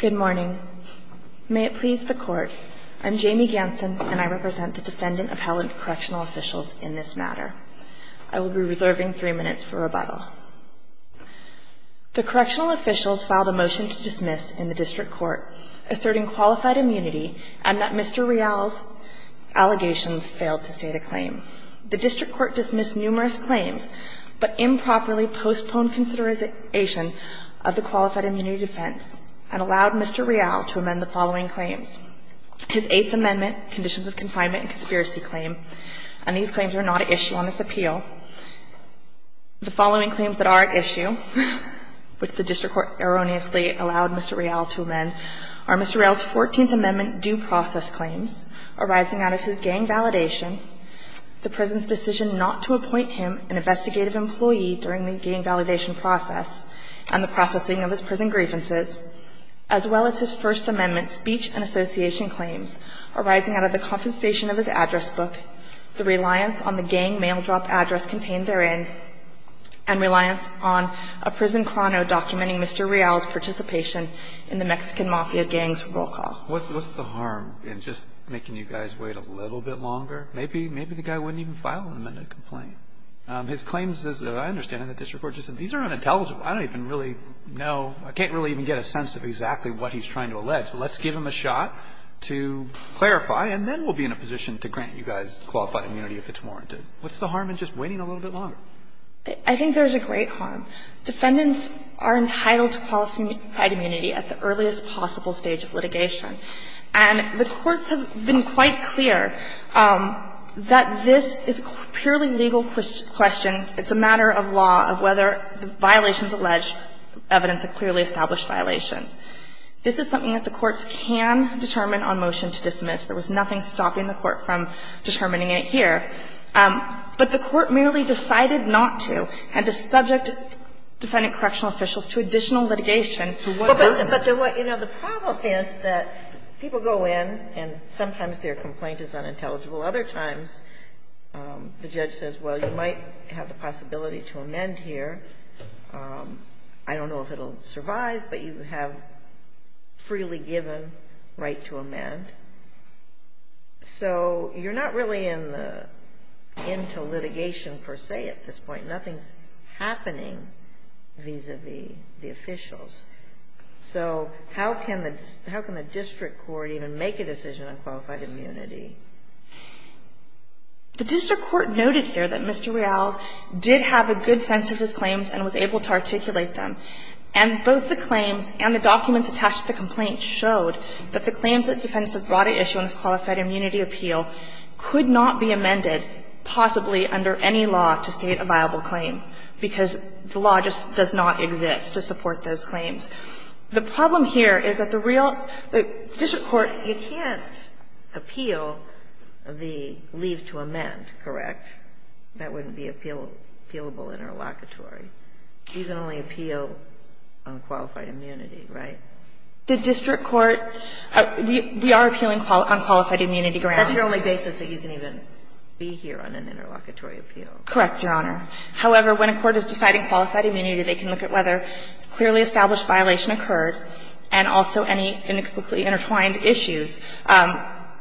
Good morning. May it please the court, I'm Jamie Ganson and I represent the defendant appellant correctional officials in this matter. I will be reserving three minutes for rebuttal. The correctional officials filed a motion to dismiss in the district court asserting qualified immunity and that Mr. Real's allegations failed to state a claim. The district court dismissed numerous claims but improperly postponed consideration of the qualified immunity defense and allowed Mr. Real to amend the following claims. His Eighth Amendment conditions of confinement and conspiracy claim, and these claims are not at issue on this appeal. The following claims that are at issue, which the district court erroneously allowed Mr. Real to amend, are Mr. Real's Fourteenth Amendment due process claims arising out of his gang validation, the prison's decision not to appoint him an investigative employee during the gang validation process, and the processing of his prison grievances, as well as his First Amendment speech and association claims arising out of the compensation of his address book, the reliance on the gang mail drop address contained therein, and reliance on a prison chrono documenting Mr. Real's participation in the Mexican mafia gang's roll call. What's the harm in just making you guys wait a little bit longer? Maybe the guy wouldn't even file an amended complaint. His claims, as I understand it, the district court just said these are unintelligible. I don't even really know. I can't really even get a sense of exactly what he's trying to allege. Let's give him a shot to clarify, and then we'll be in a position to grant you guys qualified immunity if it's warranted. What's the harm in just waiting a little bit longer? I think there's a great harm. Defendants are entitled to qualified immunity at the earliest possible stage of litigation. And the courts have been quite clear that this is a purely legal question. It's a matter of law, of whether violations allege evidence of clearly established violation. This is something that the courts can determine on motion to dismiss. There was nothing stopping the court from determining it here. But the court merely decided not to. It had to subject defendant correctional officials to additional litigation. So what harm? But, you know, the problem is that people go in and sometimes their complaint is unintelligible. Other times the judge says, well, you might have the possibility to amend here. I don't know if it will survive, but you have freely given right to amend. So you're not really in the end to litigation per se at this point. Nothing's happening vis-a-vis the officials. So how can the district court even make a decision on qualified immunity? The district court noted here that Mr. Real's did have a good sense of his claims and was able to articulate them. And both the claims and the documents attached to the complaint showed that the claims that the defendants have brought at issue on this qualified immunity appeal could not be amended possibly under any law to state a viable claim because the law just does not exist to support those claims. The problem here is that the real the district court, you can't appeal the leave to amend, correct? That wouldn't be appealable in our locatory. You can only appeal on qualified immunity, right? The district court, we are appealing on qualified immunity grounds. That's your only basis that you can even be here on an interlocutory appeal. Correct, Your Honor. However, when a court is deciding qualified immunity, they can look at whether clearly established violation occurred and also any inexplicably intertwined issues.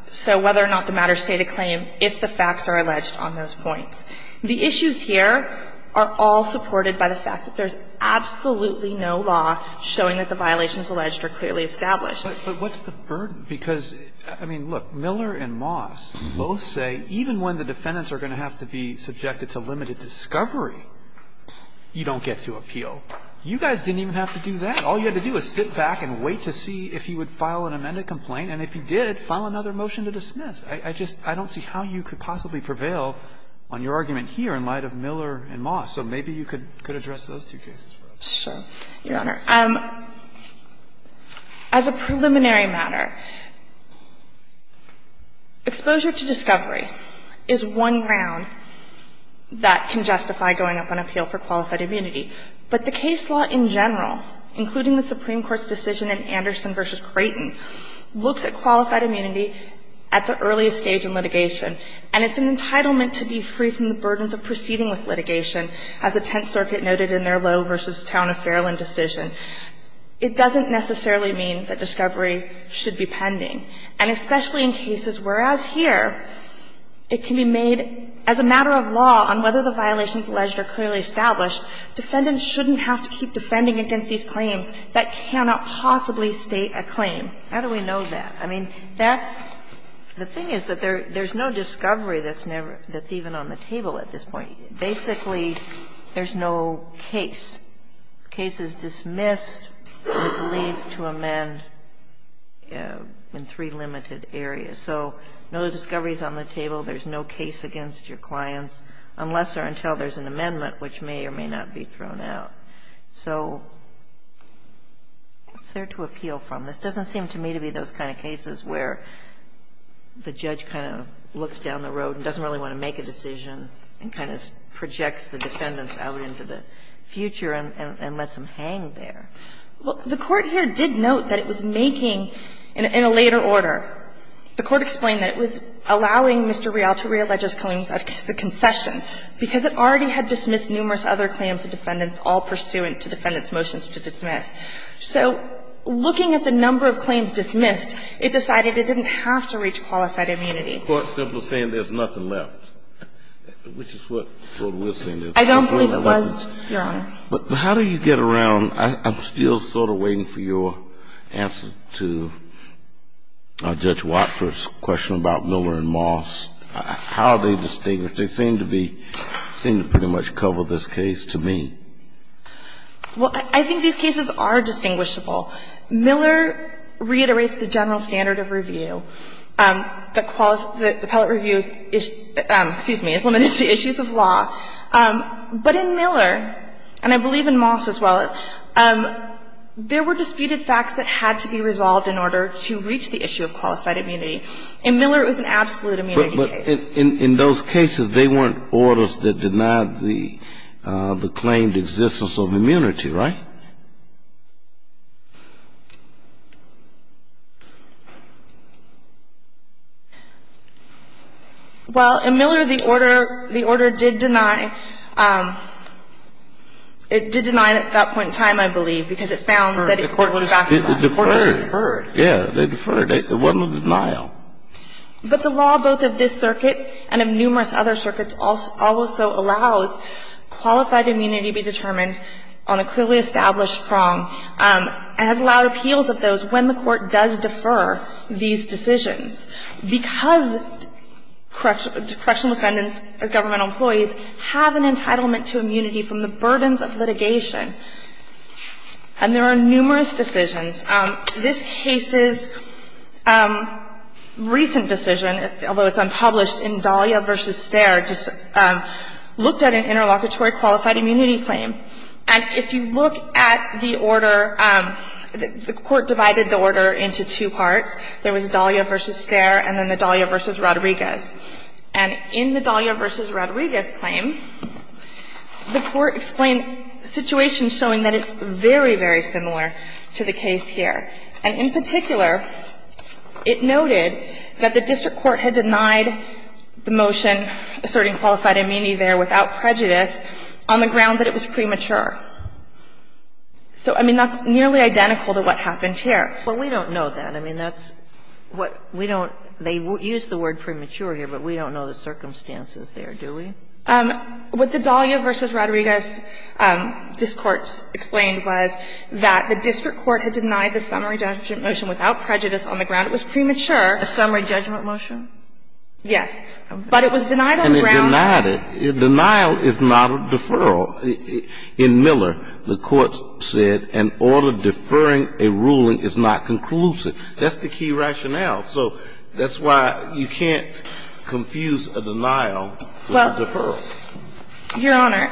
So whether or not the matter stayed a claim if the facts are alleged on those points. The issues here are all supported by the fact that there's absolutely no law showing that the violations alleged are clearly established. But what's the burden? Because, I mean, look, Miller and Moss both say even when the defendants are going to have to be subjected to limited discovery, you don't get to appeal. You guys didn't even have to do that. All you had to do was sit back and wait to see if he would file an amended complaint. And if he did, file another motion to dismiss. I just don't see how you could possibly prevail on your argument here in light of Miller and Moss. So maybe you could address those two cases for us. So, Your Honor, as a preliminary matter, exposure to discovery is one ground that can justify going up on appeal for qualified immunity. But the case law in general, including the Supreme Court's decision in Anderson v. Creighton, looks at qualified immunity at the earliest stage in litigation. And it's an entitlement to be free from the burdens of proceeding with litigation, as the Tenth Circuit noted in their Lowe v. Town of Fairland decision. It doesn't necessarily mean that discovery should be pending. And especially in cases where, as here, it can be made as a matter of law on whether the violations alleged are clearly established, defendants shouldn't have to keep defending against these claims that cannot possibly state a claim. How do we know that? I mean, that's the thing is that there's no discovery that's even on the table at this point. Basically, there's no case. Cases dismissed would leave to amend in three limited areas. So no discoveries on the table. There's no case against your clients unless or until there's an amendment, which may or may not be thrown out. So what's there to appeal from? This doesn't seem to me to be those kind of cases where the judge kind of looks down the road and doesn't really want to make a decision and kind of projects the defendants out into the future and lets them hang there. Well, the Court here did note that it was making, in a later order, the Court explained that it was allowing Mr. Rial to reallege his claims as a concession, because it already had dismissed numerous other claims of defendants all pursuant to defendants' motions to dismiss. So looking at the number of claims dismissed, it decided it didn't have to reach qualified immunity. So the Court's simply saying there's nothing left, which is what we're saying. I don't believe it was, Your Honor. But how do you get around – I'm still sort of waiting for your answer to Judge Watford's question about Miller and Moss. How are they distinguished? They seem to be – seem to pretty much cover this case to me. Well, I think these cases are distinguishable. Miller reiterates the general standard of review, that the appellate review is – excuse me – is limited to issues of law. But in Miller, and I believe in Moss as well, there were disputed facts that had to be resolved in order to reach the issue of qualified immunity. In Miller, it was an absolute immunity case. But in those cases, they weren't orders that denied the claimed existence of immunity, right? Well, in Miller, the order – the order did deny – it did deny it at that point in time, I believe, because it found that it was factional. The Court was deferred. It was deferred. Yeah, they deferred. It wasn't a denial. But the law, both of this circuit and of numerous other circuits, also allows qualified immunity to be determined on a clearly established basis. And it has allowed appeals of those when the Court does defer these decisions. Because correctional defendants, governmental employees, have an entitlement to immunity from the burdens of litigation, and there are numerous decisions. This case's recent decision, although it's unpublished, in Dahlia v. Stare, just looked at an interlocutory qualified immunity claim. And if you look at the order, the Court divided the order into two parts. There was Dahlia v. Stare and then the Dahlia v. Rodriguez. And in the Dahlia v. Rodriguez claim, the Court explained situations showing that it's very, very similar to the case here. And in particular, it noted that the district court had denied the motion asserting qualified immunity there without prejudice on the ground that it was premature. So, I mean, that's nearly identical to what happened here. But we don't know that. I mean, that's what we don't they use the word premature here, but we don't know the circumstances there, do we? What the Dahlia v. Rodriguez, this Court explained was that the district court had denied the summary judgment motion without prejudice on the ground it was premature. A summary judgment motion? Yes. But it was denied on the ground. And it denied it. Denial is not a deferral. In Miller, the Court said an order deferring a ruling is not conclusive. That's the key rationale. So that's why you can't confuse a denial with a deferral. Well, Your Honor,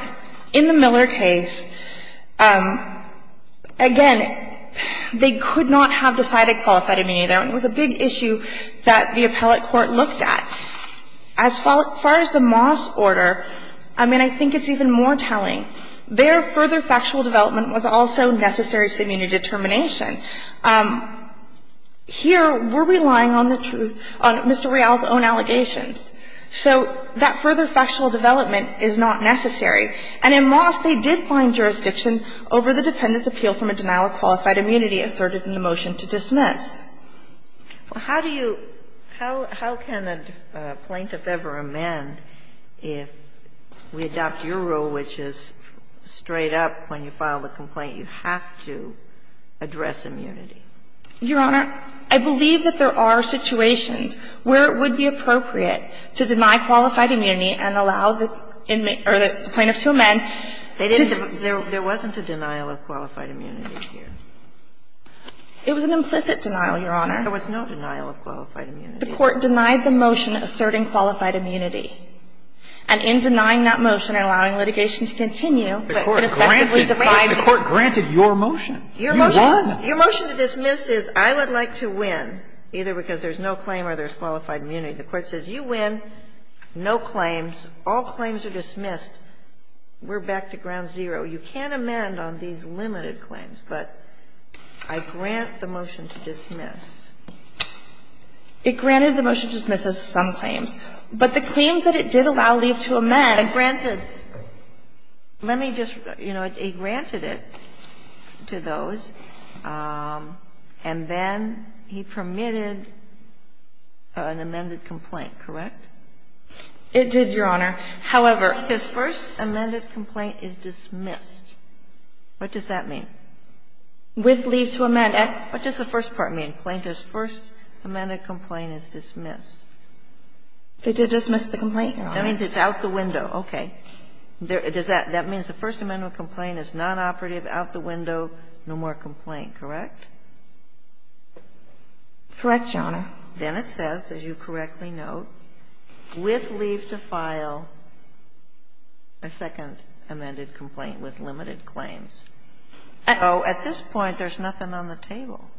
in the Miller case, again, they could not have decided qualified immunity there, and it was a big issue that the appellate court looked at. As far as the Moss order, I mean, I think it's even more telling. Their further factual development was also necessary to the immunity determination. Here, we're relying on the truth, on Mr. Real's own allegations. So that further factual development is not necessary. And in Moss, they did find jurisdiction over the dependent's appeal from a denial of qualified immunity asserted in the motion to dismiss. Well, how do you – how can a plaintiff ever amend if we adopt your rule, which is straight up when you file the complaint, you have to address immunity? Your Honor, I believe that there are situations where it would be appropriate to deny qualified immunity and allow the plaintiff to amend. They didn't – there wasn't a denial of qualified immunity here. It was an implicit denial, Your Honor. There was no denial of qualified immunity. The court denied the motion asserting qualified immunity. And in denying that motion and allowing litigation to continue, it effectively defined it. The court granted your motion. You won. Your motion to dismiss is, I would like to win, either because there's no claim or there's qualified immunity. The court says, you win, no claims, all claims are dismissed. We're back to ground zero. You can amend on these limited claims, but I grant the motion to dismiss. It granted the motion to dismiss as some claims. But the claims that it did allow leave to amend. It granted. Let me just – you know, it granted it to those, and then he permitted an amended complaint, correct? It did, Your Honor. However, his first amended complaint is dismissed. What does that mean? With leave to amend. What does the first part mean? Plaintiff's first amended complaint is dismissed. They did dismiss the complaint, Your Honor. That means it's out the window. Okay. Does that – that means the first amended complaint is nonoperative, out the window, no more complaint, correct? Correct, Your Honor. Then it says, as you correctly note, with leave to file a second amended complaint with limited claims. So at this point, there's nothing on the table.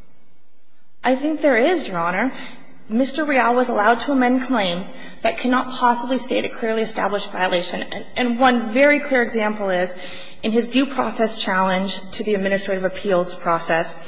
I think there is, Your Honor. Mr. Real was allowed to amend claims that cannot possibly state a clearly established violation. And one very clear example is, in his due process challenge to the administrative appeals process,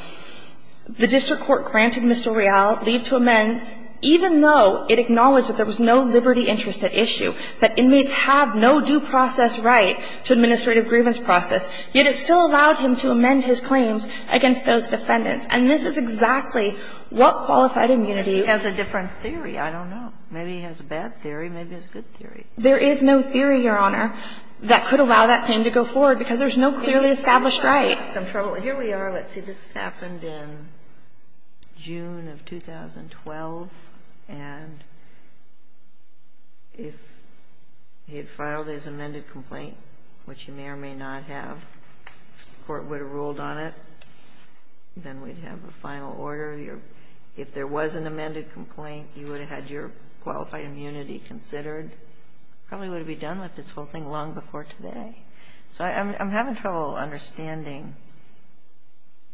the district court granted Mr. Real leave to amend, even though it acknowledged that there was no liberty interest at issue, that inmates have no due process right to administrative grievance process, yet it still allowed him to amend his claims against those defendants. And this is exactly what qualified immunity – Well, maybe he has a different theory. I don't know. Maybe he has a bad theory. Maybe he has a good theory. There is no theory, Your Honor, that could allow that claim to go forward because there's no clearly established right. Here we are. Let's see. This happened in June of 2012. And if he had filed his amended complaint, which he may or may not have, the court would have ruled on it. Then we'd have a final order. If there was an amended complaint, you would have had your qualified immunity considered. Probably would have been done with this whole thing long before today. So I'm having trouble understanding,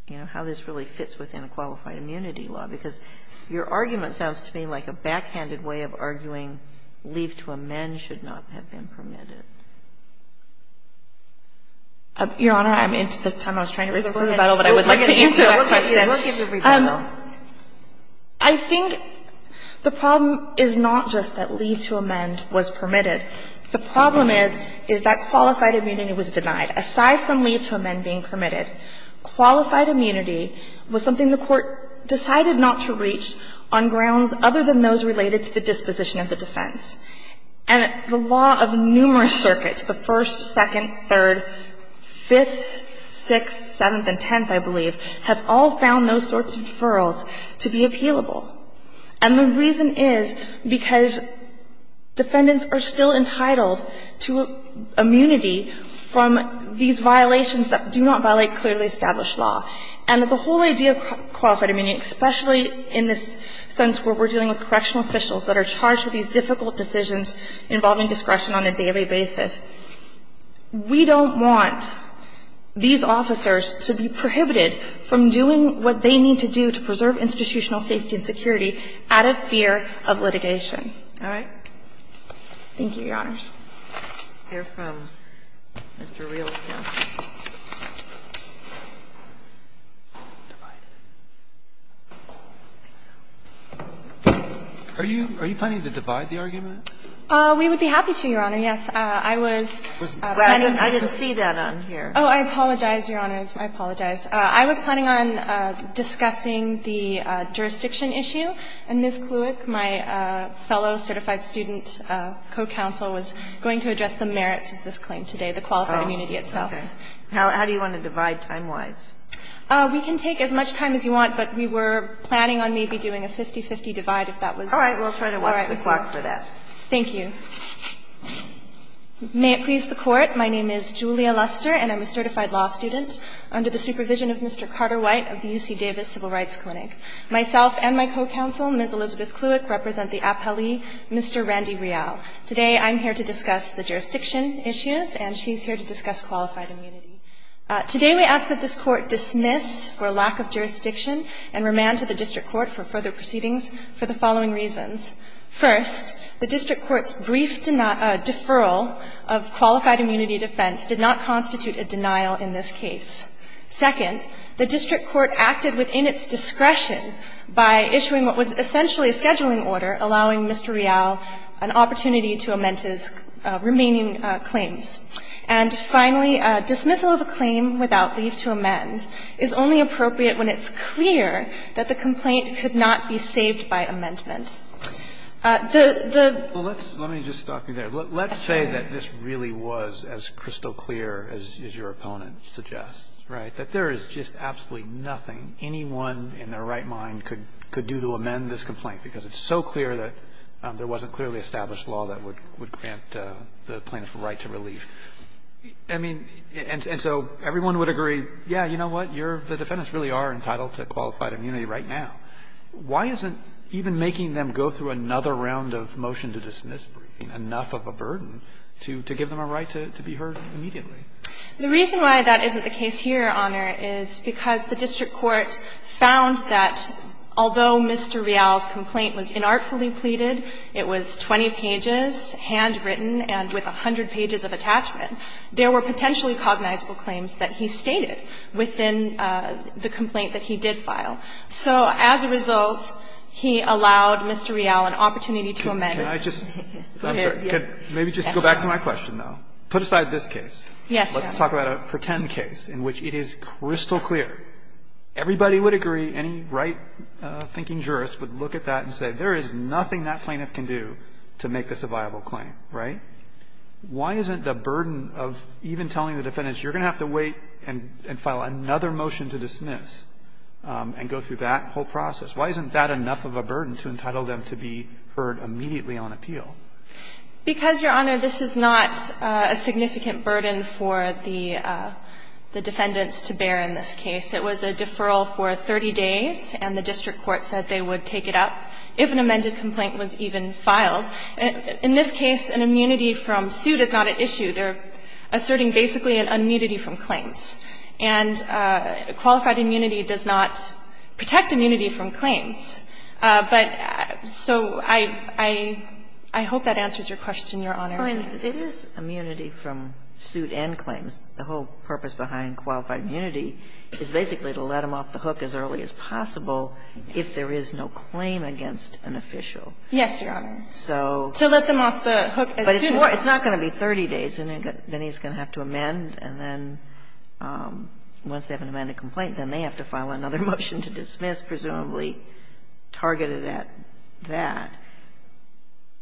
you know, how this really fits within a qualified immunity law. Because your argument sounds to me like a backhanded way of arguing leave to amend should not have been permitted. Your Honor, I'm into the time I was trying to raise a rebuttal, but I would like to answer that question. I think the problem is not just that leave to amend was permitted. The problem is, is that qualified immunity was denied. Aside from leave to amend being permitted, qualified immunity was something the Court decided not to reach on grounds other than those related to the disposition of the defense. And the law of numerous circuits, the First, Second, Third, Fifth, Sixth, Seventh, and Tenth, I believe, have all found those sorts of deferrals to be appealable. And the reason is because defendants are still entitled to immunity from these violations that do not violate clearly established law. And the whole idea of qualified immunity, especially in this sense where we're dealing with correctional officials that are charged with these difficult decisions involving discretion on a daily basis, we don't want these officers to be prohibited from doing what they need to do to preserve institutional safety and security out of fear of litigation. All right? Thank you, Your Honors. Are you planning to divide the argument? We would be happy to, Your Honor. Yes, I was planning to. I didn't see that on here. Oh, I apologize, Your Honors. I apologize. I was planning on discussing the jurisdiction issue, and Ms. Kluwik, my fellow certified student co-counsel, was going to address the merits of this claim today, the qualified immunity itself. Oh, okay. How do you want to divide time-wise? We can take as much time as you want, but we were planning on maybe doing a 50-50 divide if that was all right. All right. We'll try to watch the clock for that. Thank you. May it please the Court, my name is Julia Luster and I'm a certified law student. Under the supervision of Mr. Carter White of the UC Davis Civil Rights Clinic. Myself and my co-counsel, Ms. Elizabeth Kluwik, represent the appellee, Mr. Randy Real. Today I'm here to discuss the jurisdiction issues and she's here to discuss qualified immunity. Today we ask that this Court dismiss for lack of jurisdiction and remand to the District Court for further proceedings for the following reasons. First, the District Court's brief deferral of qualified immunity defense did not allow Mr. Real to remain in the case. Second, the District Court acted within its discretion by issuing what was essentially a scheduling order, allowing Mr. Real an opportunity to amend his remaining claims. And finally, dismissal of a claim without leave to amend is only appropriate when it's clear that the complaint could not be saved by amendment. The, the. Well, let's, let me just stop you there. Let's say that this really was as crystal clear as your opponent suggests, right? That there is just absolutely nothing anyone in their right mind could, could do to amend this complaint, because it's so clear that there wasn't clearly established law that would, would grant the plaintiff a right to relieve. I mean, and so everyone would agree, yeah, you know what, you're, the defendants really are entitled to qualified immunity right now. Why isn't even making them go through another round of motion to dismiss briefing enough of a burden to, to give them a right to, to be heard immediately? The reason why that isn't the case here, Your Honor, is because the District Court found that although Mr. Real's complaint was inartfully pleaded, it was 20 pages handwritten and with 100 pages of attachment, there were potentially cognizable claims that he stated within the complaint that he did file. So as a result, he allowed Mr. Real an opportunity to amend. Can I just, I'm sorry, maybe just go back to my question now. Put aside this case. Yes, Your Honor. Let's talk about a pretend case in which it is crystal clear. Everybody would agree, any right thinking jurist would look at that and say there is nothing that plaintiff can do to make this a viable claim, right? Why isn't the burden of even telling the defendants you're going to have to wait and file another motion to dismiss and go through that whole process, why isn't that enough of a burden to entitle them to be heard immediately on appeal? Because, Your Honor, this is not a significant burden for the defendants to bear in this case. It was a deferral for 30 days, and the District Court said they would take it up if an amended complaint was even filed. In this case, an immunity from suit is not at issue. They're asserting basically an immunity from claims. And qualified immunity does not protect immunity from claims. But so I hope that answers your question, Your Honor. It is immunity from suit and claims. The whole purpose behind qualified immunity is basically to let them off the hook as early as possible if there is no claim against an official. Yes, Your Honor. To let them off the hook as soon as possible. It's not going to be 30 days, and then he's going to have to amend, and then once they have an amended complaint, then they have to file another motion to dismiss, presumably targeted at that.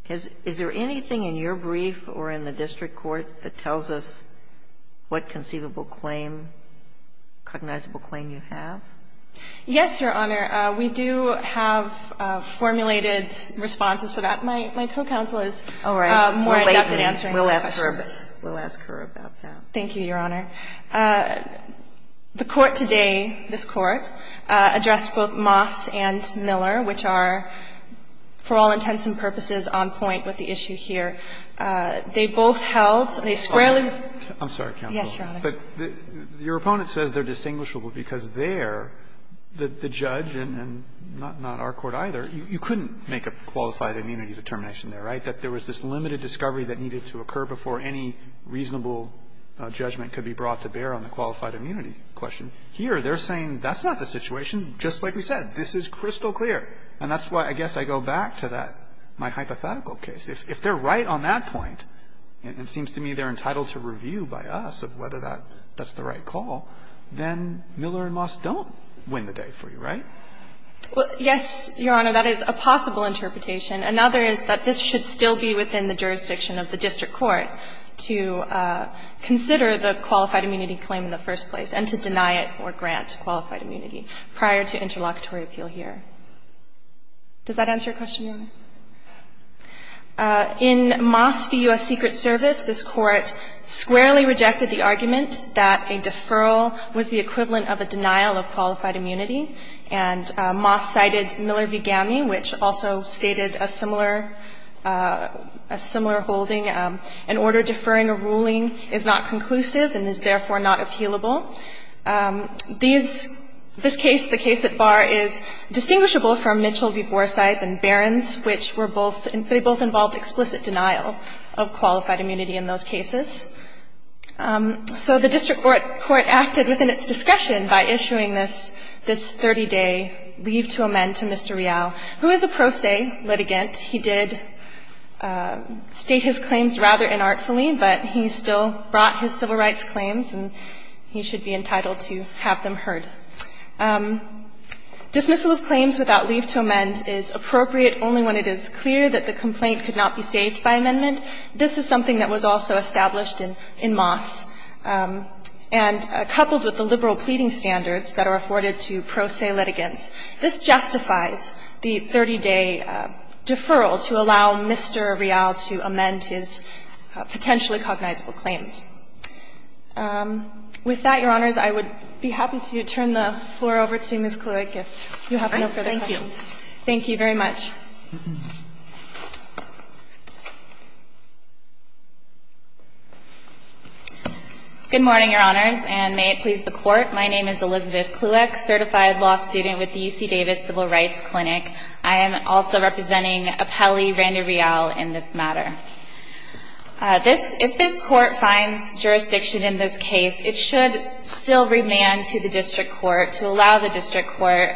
Is there anything in your brief or in the District Court that tells us what conceivable claim, cognizable claim you have? Yes, Your Honor. We do have formulated responses for that. My co-counsel is more adept at it. We'll ask her about that. Thank you, Your Honor. The court today, this Court, addressed both Moss and Miller, which are, for all intents and purposes, on point with the issue here. They both held, they squarely. I'm sorry, counsel. Yes, Your Honor. But your opponent says they're distinguishable because there, the judge and not our court either, you couldn't make a qualified immunity determination there, right? I think that there was this limited discovery that needed to occur before any reasonable judgment could be brought to bear on the qualified immunity question. Here, they're saying that's not the situation, just like we said. This is crystal clear. And that's why I guess I go back to that, my hypothetical case. If they're right on that point, it seems to me they're entitled to review by us of whether that's the right call, then Miller and Moss don't win the day for you, right? Well, yes, Your Honor, that is a possible interpretation. Another is that this should still be within the jurisdiction of the district court to consider the qualified immunity claim in the first place and to deny it or grant qualified immunity prior to interlocutory appeal here. Does that answer your question, Your Honor? In Moss v. U.S. Secret Service, this Court squarely rejected the argument that a deferral was the equivalent of a denial of qualified immunity. And Moss cited Miller v. GAMI, which also stated a similar holding. An order deferring a ruling is not conclusive and is therefore not appealable. These – this case, the case at bar, is distinguishable from Mitchell v. Forsythe and Barron's, which were both – they both involved explicit denial of qualified immunity in those cases. So the district court acted within its discretion by issuing this – this 30-day leave to amend to Mr. Real, who is a pro se litigant. He did state his claims rather inartfully, but he still brought his civil rights claims, and he should be entitled to have them heard. Dismissal of claims without leave to amend is appropriate only when it is clear that the complaint could not be saved by amendment. This is something that was also established in – in Moss. And coupled with the liberal pleading standards that are afforded to pro se litigants, this justifies the 30-day deferral to allow Mr. Real to amend his potentially cognizable claims. With that, Your Honors, I would be happy to turn the floor over to Ms. Kluig if you have no further questions. Kluig, I thank you. Thank you very much. Good morning, Your Honors, and may it please the Court. My name is Elizabeth Kluig, certified law student with the UC Davis Civil Rights Clinic. I am also representing Appellee Randy Real in this matter. This – if this Court finds jurisdiction in this case, it should still remand to the district court to allow the district court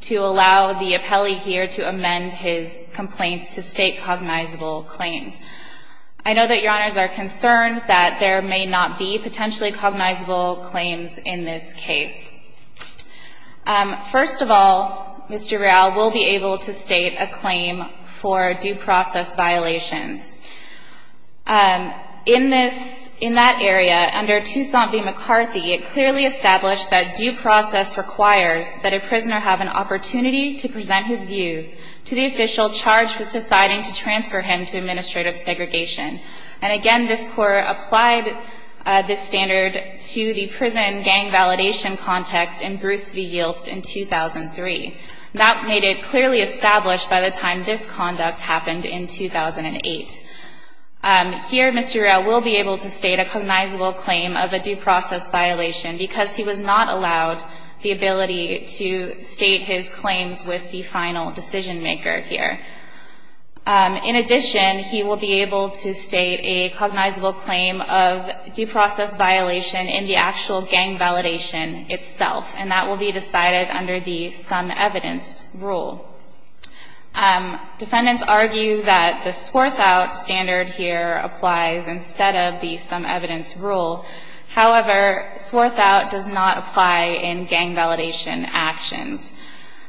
to allow the appellee here to amend his complaints to state cognizable claims. I know that Your Honors are concerned that there may not be potentially cognizable claims in this case. First of all, Mr. Real will be able to state a claim for due process violations. In this – in that area, under Toussaint v. McCarthy, it clearly established that due process requires that a prisoner have an opportunity to present his views to the official charged with deciding to transfer him to administrative segregation. And again, this Court applied this standard to the prison gang validation context in Bruce v. Yilst in 2003. That made it clearly established by the time this conduct happened in 2008. Here, Mr. Real will be able to state a cognizable claim of a due process violation because he was not allowed the ability to state his claims with the final decision maker here. In addition, he will be able to state a cognizable claim of due process violation in the actual gang validation itself, and that will be decided under the some evidence rule. Defendants argue that the Swarthout standard here applies instead of the some evidence rule. However, Swarthout does not apply in gang validation actions.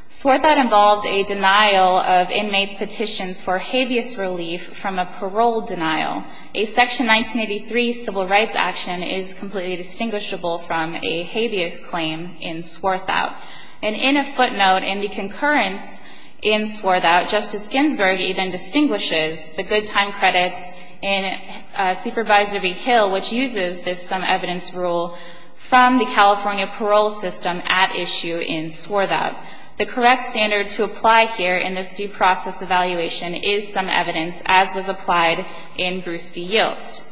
Swarthout involved a denial of inmates' petitions for habeas relief from a parole denial. A Section 1983 civil rights action is completely distinguishable from a habeas claim in Swarthout. And in a footnote, in the concurrence in Swarthout, Justice Ginsburg even removed the some evidence rule from the California parole system at issue in Swarthout. The correct standard to apply here in this due process evaluation is some evidence, as was applied in Bruce v. Yilst.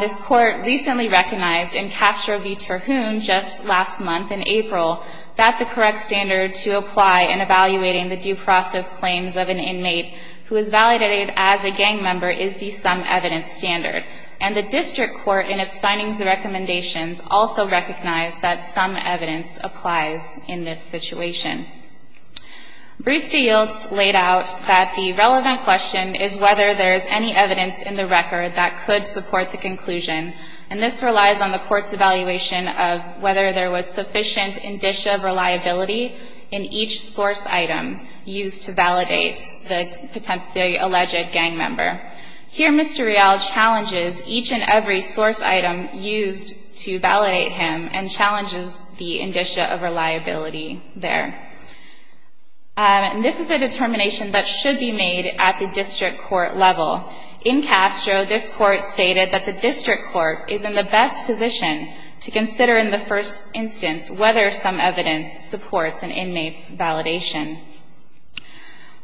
This Court recently recognized in Castro v. Terhune just last month in April that the correct standard to apply in evaluating the due process claims of an inmate who is validated as a gang member is the some evidence standard. And the district court in its findings and recommendations also recognized that some evidence applies in this situation. Bruce v. Yilst laid out that the relevant question is whether there is any evidence in the record that could support the conclusion, and this relies on the Court's evaluation of whether there was sufficient indicia of reliability in each source item used to validate the alleged gang member. Here Mr. Real challenges each and every source item used to validate him and challenges the indicia of reliability there. And this is a determination that should be made at the district court level. In Castro, this Court stated that the district court is in the best position to consider in the first instance whether some evidence supports an inmate's validation.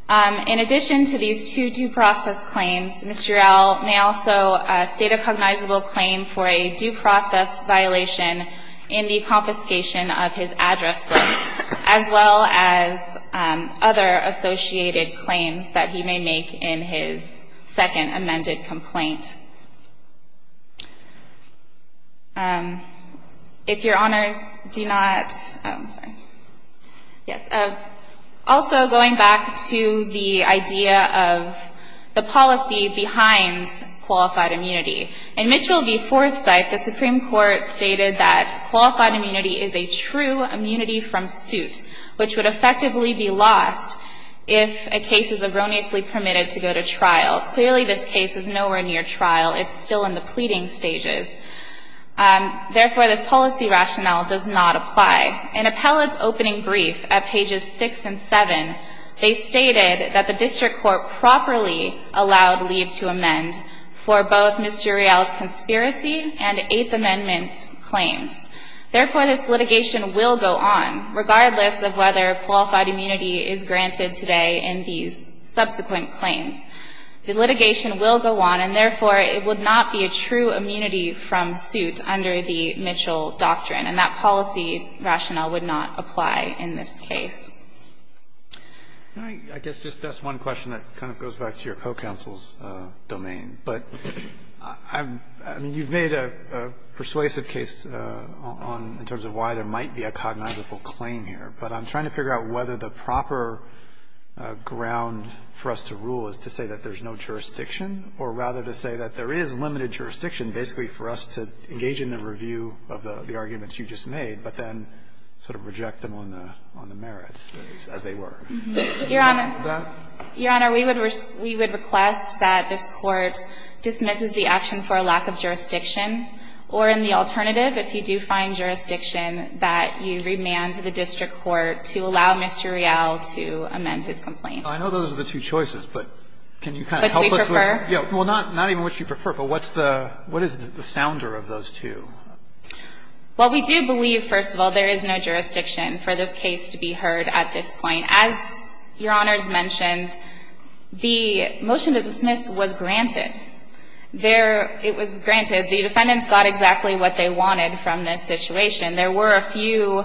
In addition to these two due process claims, Mr. Real may also state a cognizable claim for a due process violation in the confiscation of his address book, as well as other associated claims that he may make in his second amended complaint. If Your Honors do not, oh, I'm sorry. Yes, also going back to the idea of the policy behind qualified immunity. In Mitchell v. Forsythe, the Supreme Court stated that qualified immunity is a true immunity from suit, which would effectively be lost if a case is erroneously permitted to go to trial. Clearly this case is nowhere near trial. It's still in the pleading stages. Therefore, this policy rationale does not apply. In Appellate's opening brief at pages 6 and 7, they stated that the district court properly allowed leave to amend for both Mr. Real's conspiracy and Eighth Amendment claims. Therefore, this litigation will go on, regardless of whether qualified immunity is granted today in these subsequent claims. The litigation will go on, and therefore it would not be a true immunity from suit under the Mitchell doctrine. And that policy rationale would not apply in this case. Can I, I guess, just ask one question that kind of goes back to your co-counsel's domain. But I'm, I mean, you've made a persuasive case on, in terms of why there might be a cognizable claim here. But I'm trying to figure out whether the proper ground for us to rule is to say that there's no jurisdiction, or rather to say that there is limited jurisdiction basically for us to engage in the review of the arguments you just made, but then sort of reject them on the merits, as they were. Your Honor. Your Honor, we would request that this Court dismisses the action for a lack of jurisdiction. Or, in the alternative, if you do find jurisdiction, that you remand to the district court to allow Mr. Rial to amend his complaint. I know those are the two choices, but can you kind of help us with them? Which we prefer. Well, not even which you prefer. But what's the, what is the sounder of those two? Well, we do believe, first of all, there is no jurisdiction for this case to be heard at this point. As Your Honor has mentioned, the motion to dismiss was granted. There, it was granted. The defendants got exactly what they wanted from this situation. There were a few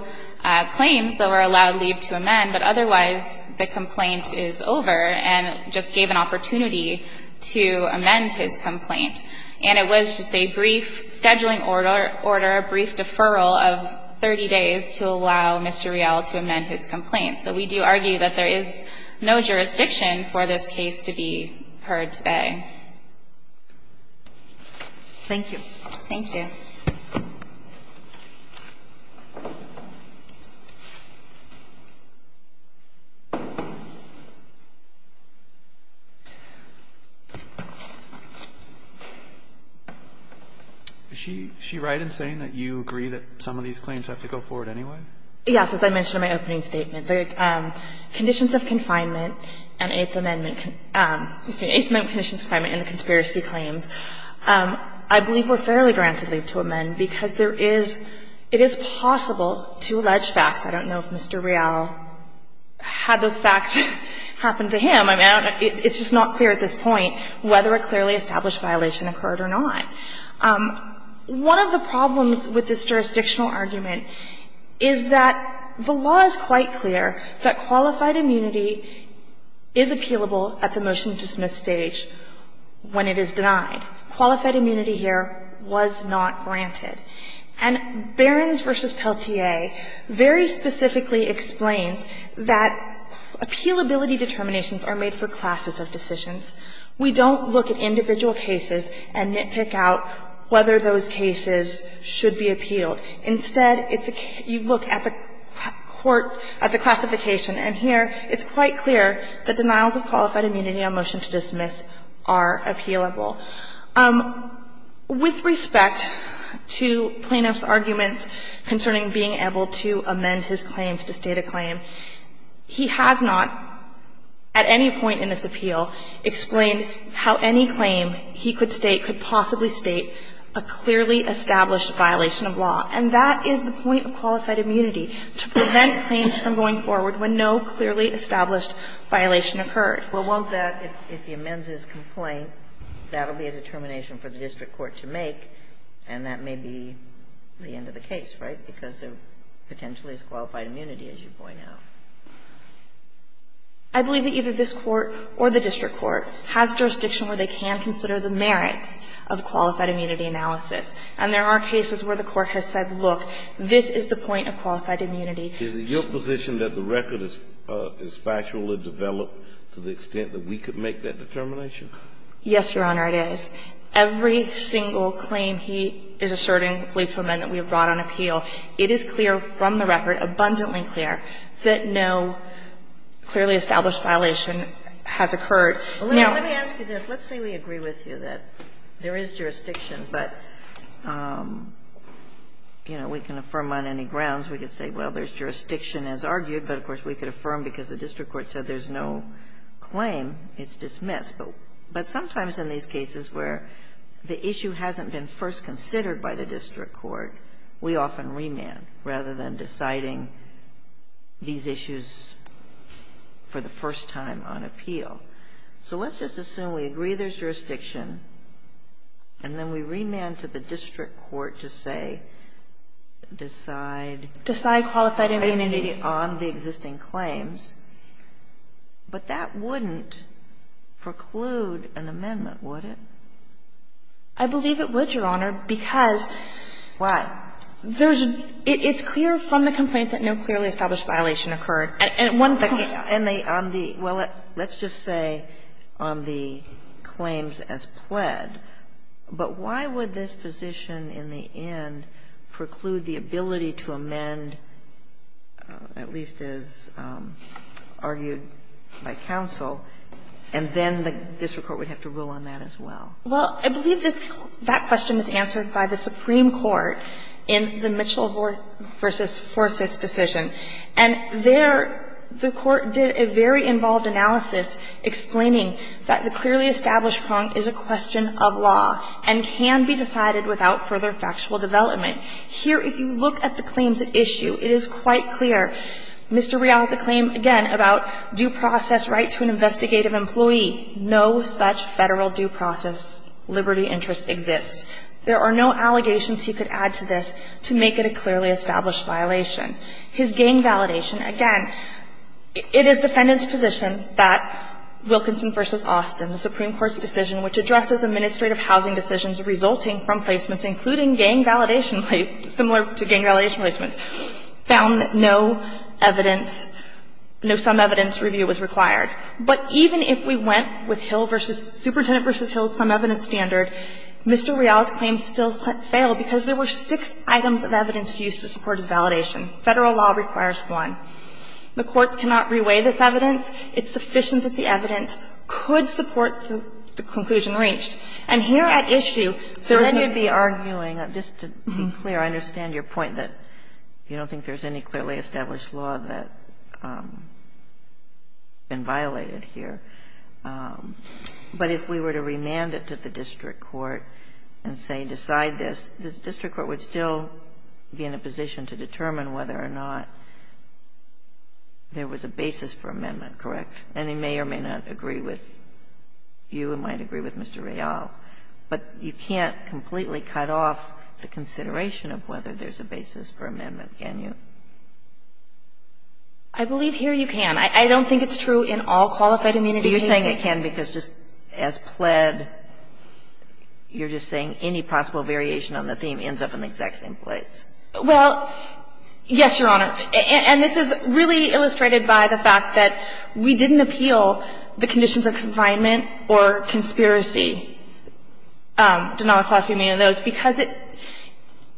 claims that were allowed leave to amend, but otherwise the complaint is over, and just gave an opportunity to amend his complaint. And it was just a brief scheduling order, a brief deferral of 30 days to allow Mr. Rial to amend his complaint. So we do argue that there is no jurisdiction for this case to be heard today. Thank you. Thank you. Is she right in saying that you agree that some of these claims have to go forward anyway? Yes, as I mentioned in my opening statement. The conditions of confinement and Eighth Amendment, excuse me, Eighth Amendment conditions of confinement and the conspiracy claims, I believe were fairly granted leave to amend, because there is, it is possible to allege facts. I don't know if Mr. Rial had those facts happen to him. I mean, I don't know. It's just not clear at this point whether a clearly established violation occurred or not. One of the problems with this jurisdictional argument is that the law is quite clear that qualified immunity is appealable at the motion-to-dismiss stage when it is denied. Qualified immunity here was not granted. And Behrens v. Pelletier very specifically explains that appealability determinations are made for classes of decisions. We don't look at individual cases and nitpick out whether those cases should be appealed. Instead, it's a case, you look at the court, at the classification, and here it's quite clear that denials of qualified immunity on motion-to-dismiss are appealable. With respect to plaintiff's arguments concerning being able to amend his claims to state a claim, he has not, at any point in this appeal, explained how any claim he could state could possibly state a clearly established violation of law. And that is the point of qualified immunity, to prevent claims from going forward when no clearly established violation occurred. Well, won't that, if he amends his complaint, that will be a determination for the district court to make, and that may be the end of the case, right, because they're potentially as qualified immunity as you point out? I believe that either this Court or the district court has jurisdiction where they can consider the merits of qualified immunity analysis. And there are cases where the court has said, look, this is the point of qualified immunity. Is it your position that the record is factually developed to the extent that we could make that determination? Yes, Your Honor, it is. Every single claim he is asserting, plea for amendment, we have brought on appeal. It is clear from the record, abundantly clear, that no clearly established violation has occurred. Now, let me ask you this. Let's say we agree with you that there is jurisdiction, but, you know, we can affirm on any grounds. We could say, well, there's jurisdiction as argued, but, of course, we could affirm because the district court said there's no claim, it's dismissed. But sometimes in these cases where the issue hasn't been first considered by the district court, we often remand, rather than deciding these issues for the first time on appeal. So let's just assume we agree there's jurisdiction, and then we remand to the district court to say, decide. Decide qualified immunity. Decide on the existing claims. But that wouldn't preclude an amendment, would it? I believe it would, Your Honor, because there's a – it's clear from the complaint that no clearly established violation occurred. And at one point – And on the – well, let's just say on the claims as pled, but why would this position in the end preclude the ability to amend, at least as argued by counsel, and then the district court would have to rule on that as well? Well, I believe this – that question is answered by the Supreme Court in the Mitchell v. Forsyth decision. And there, the Court did a very involved analysis explaining that the clearly established prong is a question of law and can be decided without further factual development. Here, if you look at the claims at issue, it is quite clear. Mr. Rial has a claim, again, about due process right to an investigative employee. No such Federal due process liberty interest exists. There are no allegations he could add to this to make it a clearly established violation. His gang validation, again, it is defendant's position that Wilkinson v. Austin, the Supreme Court's decision which addresses administrative housing decisions resulting from placements including gang validation, similar to gang validation placements, found no evidence, no sum evidence review was required. But even if we went with Hill v. – Superintendent v. Hill's sum evidence standard, Mr. Rial's claim still failed because there were six items of evidence used to support his validation. Federal law requires one. The courts cannot reweigh this evidence. It's sufficient that the evidence could support the conclusion reached. And here at issue, there is no – So then you'd be arguing, just to be clear, I understand your point that you don't think there's any clearly established law that's been violated here. But if we were to remand it to the district court and say, decide this, the district court would still be in a position to determine whether or not there was a basis for amendment, correct? And they may or may not agree with you and might agree with Mr. Rial. But you can't completely cut off the consideration of whether there's a basis for amendment. Can you? I believe here you can. I don't think it's true in all qualified immunity cases. But you're saying it can because just as pled, you're just saying any possible variation on the theme ends up in the exact same place. Well, yes, Your Honor. And this is really illustrated by the fact that we didn't appeal the conditions of confinement or conspiracy, Denali-Clough, you may know those, because it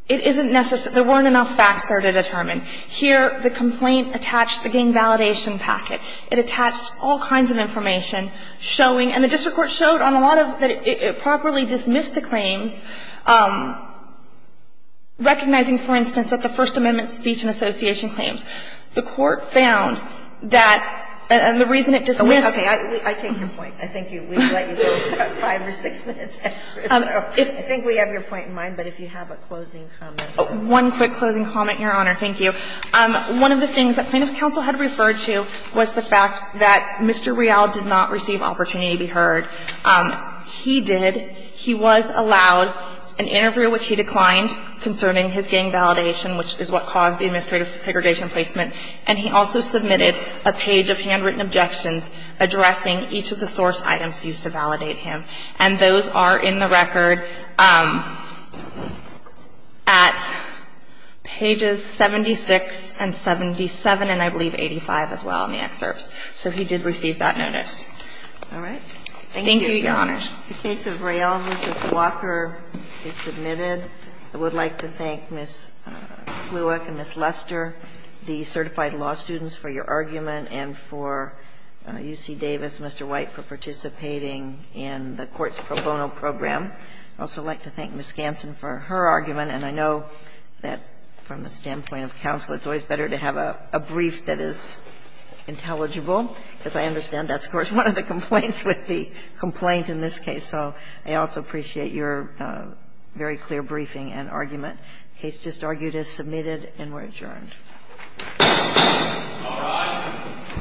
isn't There weren't enough facts there to determine. Here, the complaint attached the gang validation packet. It attached all kinds of information showing, and the district court showed on a lot of it, it properly dismissed the claims, recognizing, for instance, that the First Amendment speech and association claims. The court found that, and the reason it dismissed the claims was because it didn't have a basis for amendment. One quick closing comment, Your Honor. Thank you. One of the things that plaintiff's counsel had referred to was the fact that Mr. Real did not receive opportunity to be heard. He did. He was allowed an interview, which he declined, concerning his gang validation, which is what caused the administrative segregation placement. And he also submitted a page of handwritten objections addressing each of the source items used to validate him. And those are in the record at pages 76 and 77, and I believe 85 as well in the excerpts. So he did receive that notice. All right. Thank you, Your Honors. The case of Real v. Walker is submitted. I would like to thank Ms. Blewick and Ms. Lester, the certified law students, for your argument and for UC Davis, Mr. White, for participating in the court's pro bono program. I'd also like to thank Ms. Ganssen for her argument, and I know that from the standpoint of counsel, it's always better to have a brief that is intelligible. As I understand, that's, of course, one of the complaints with the complaint in this case. So I also appreciate your very clear briefing and argument. The case just argued is submitted and we're adjourned. All rise.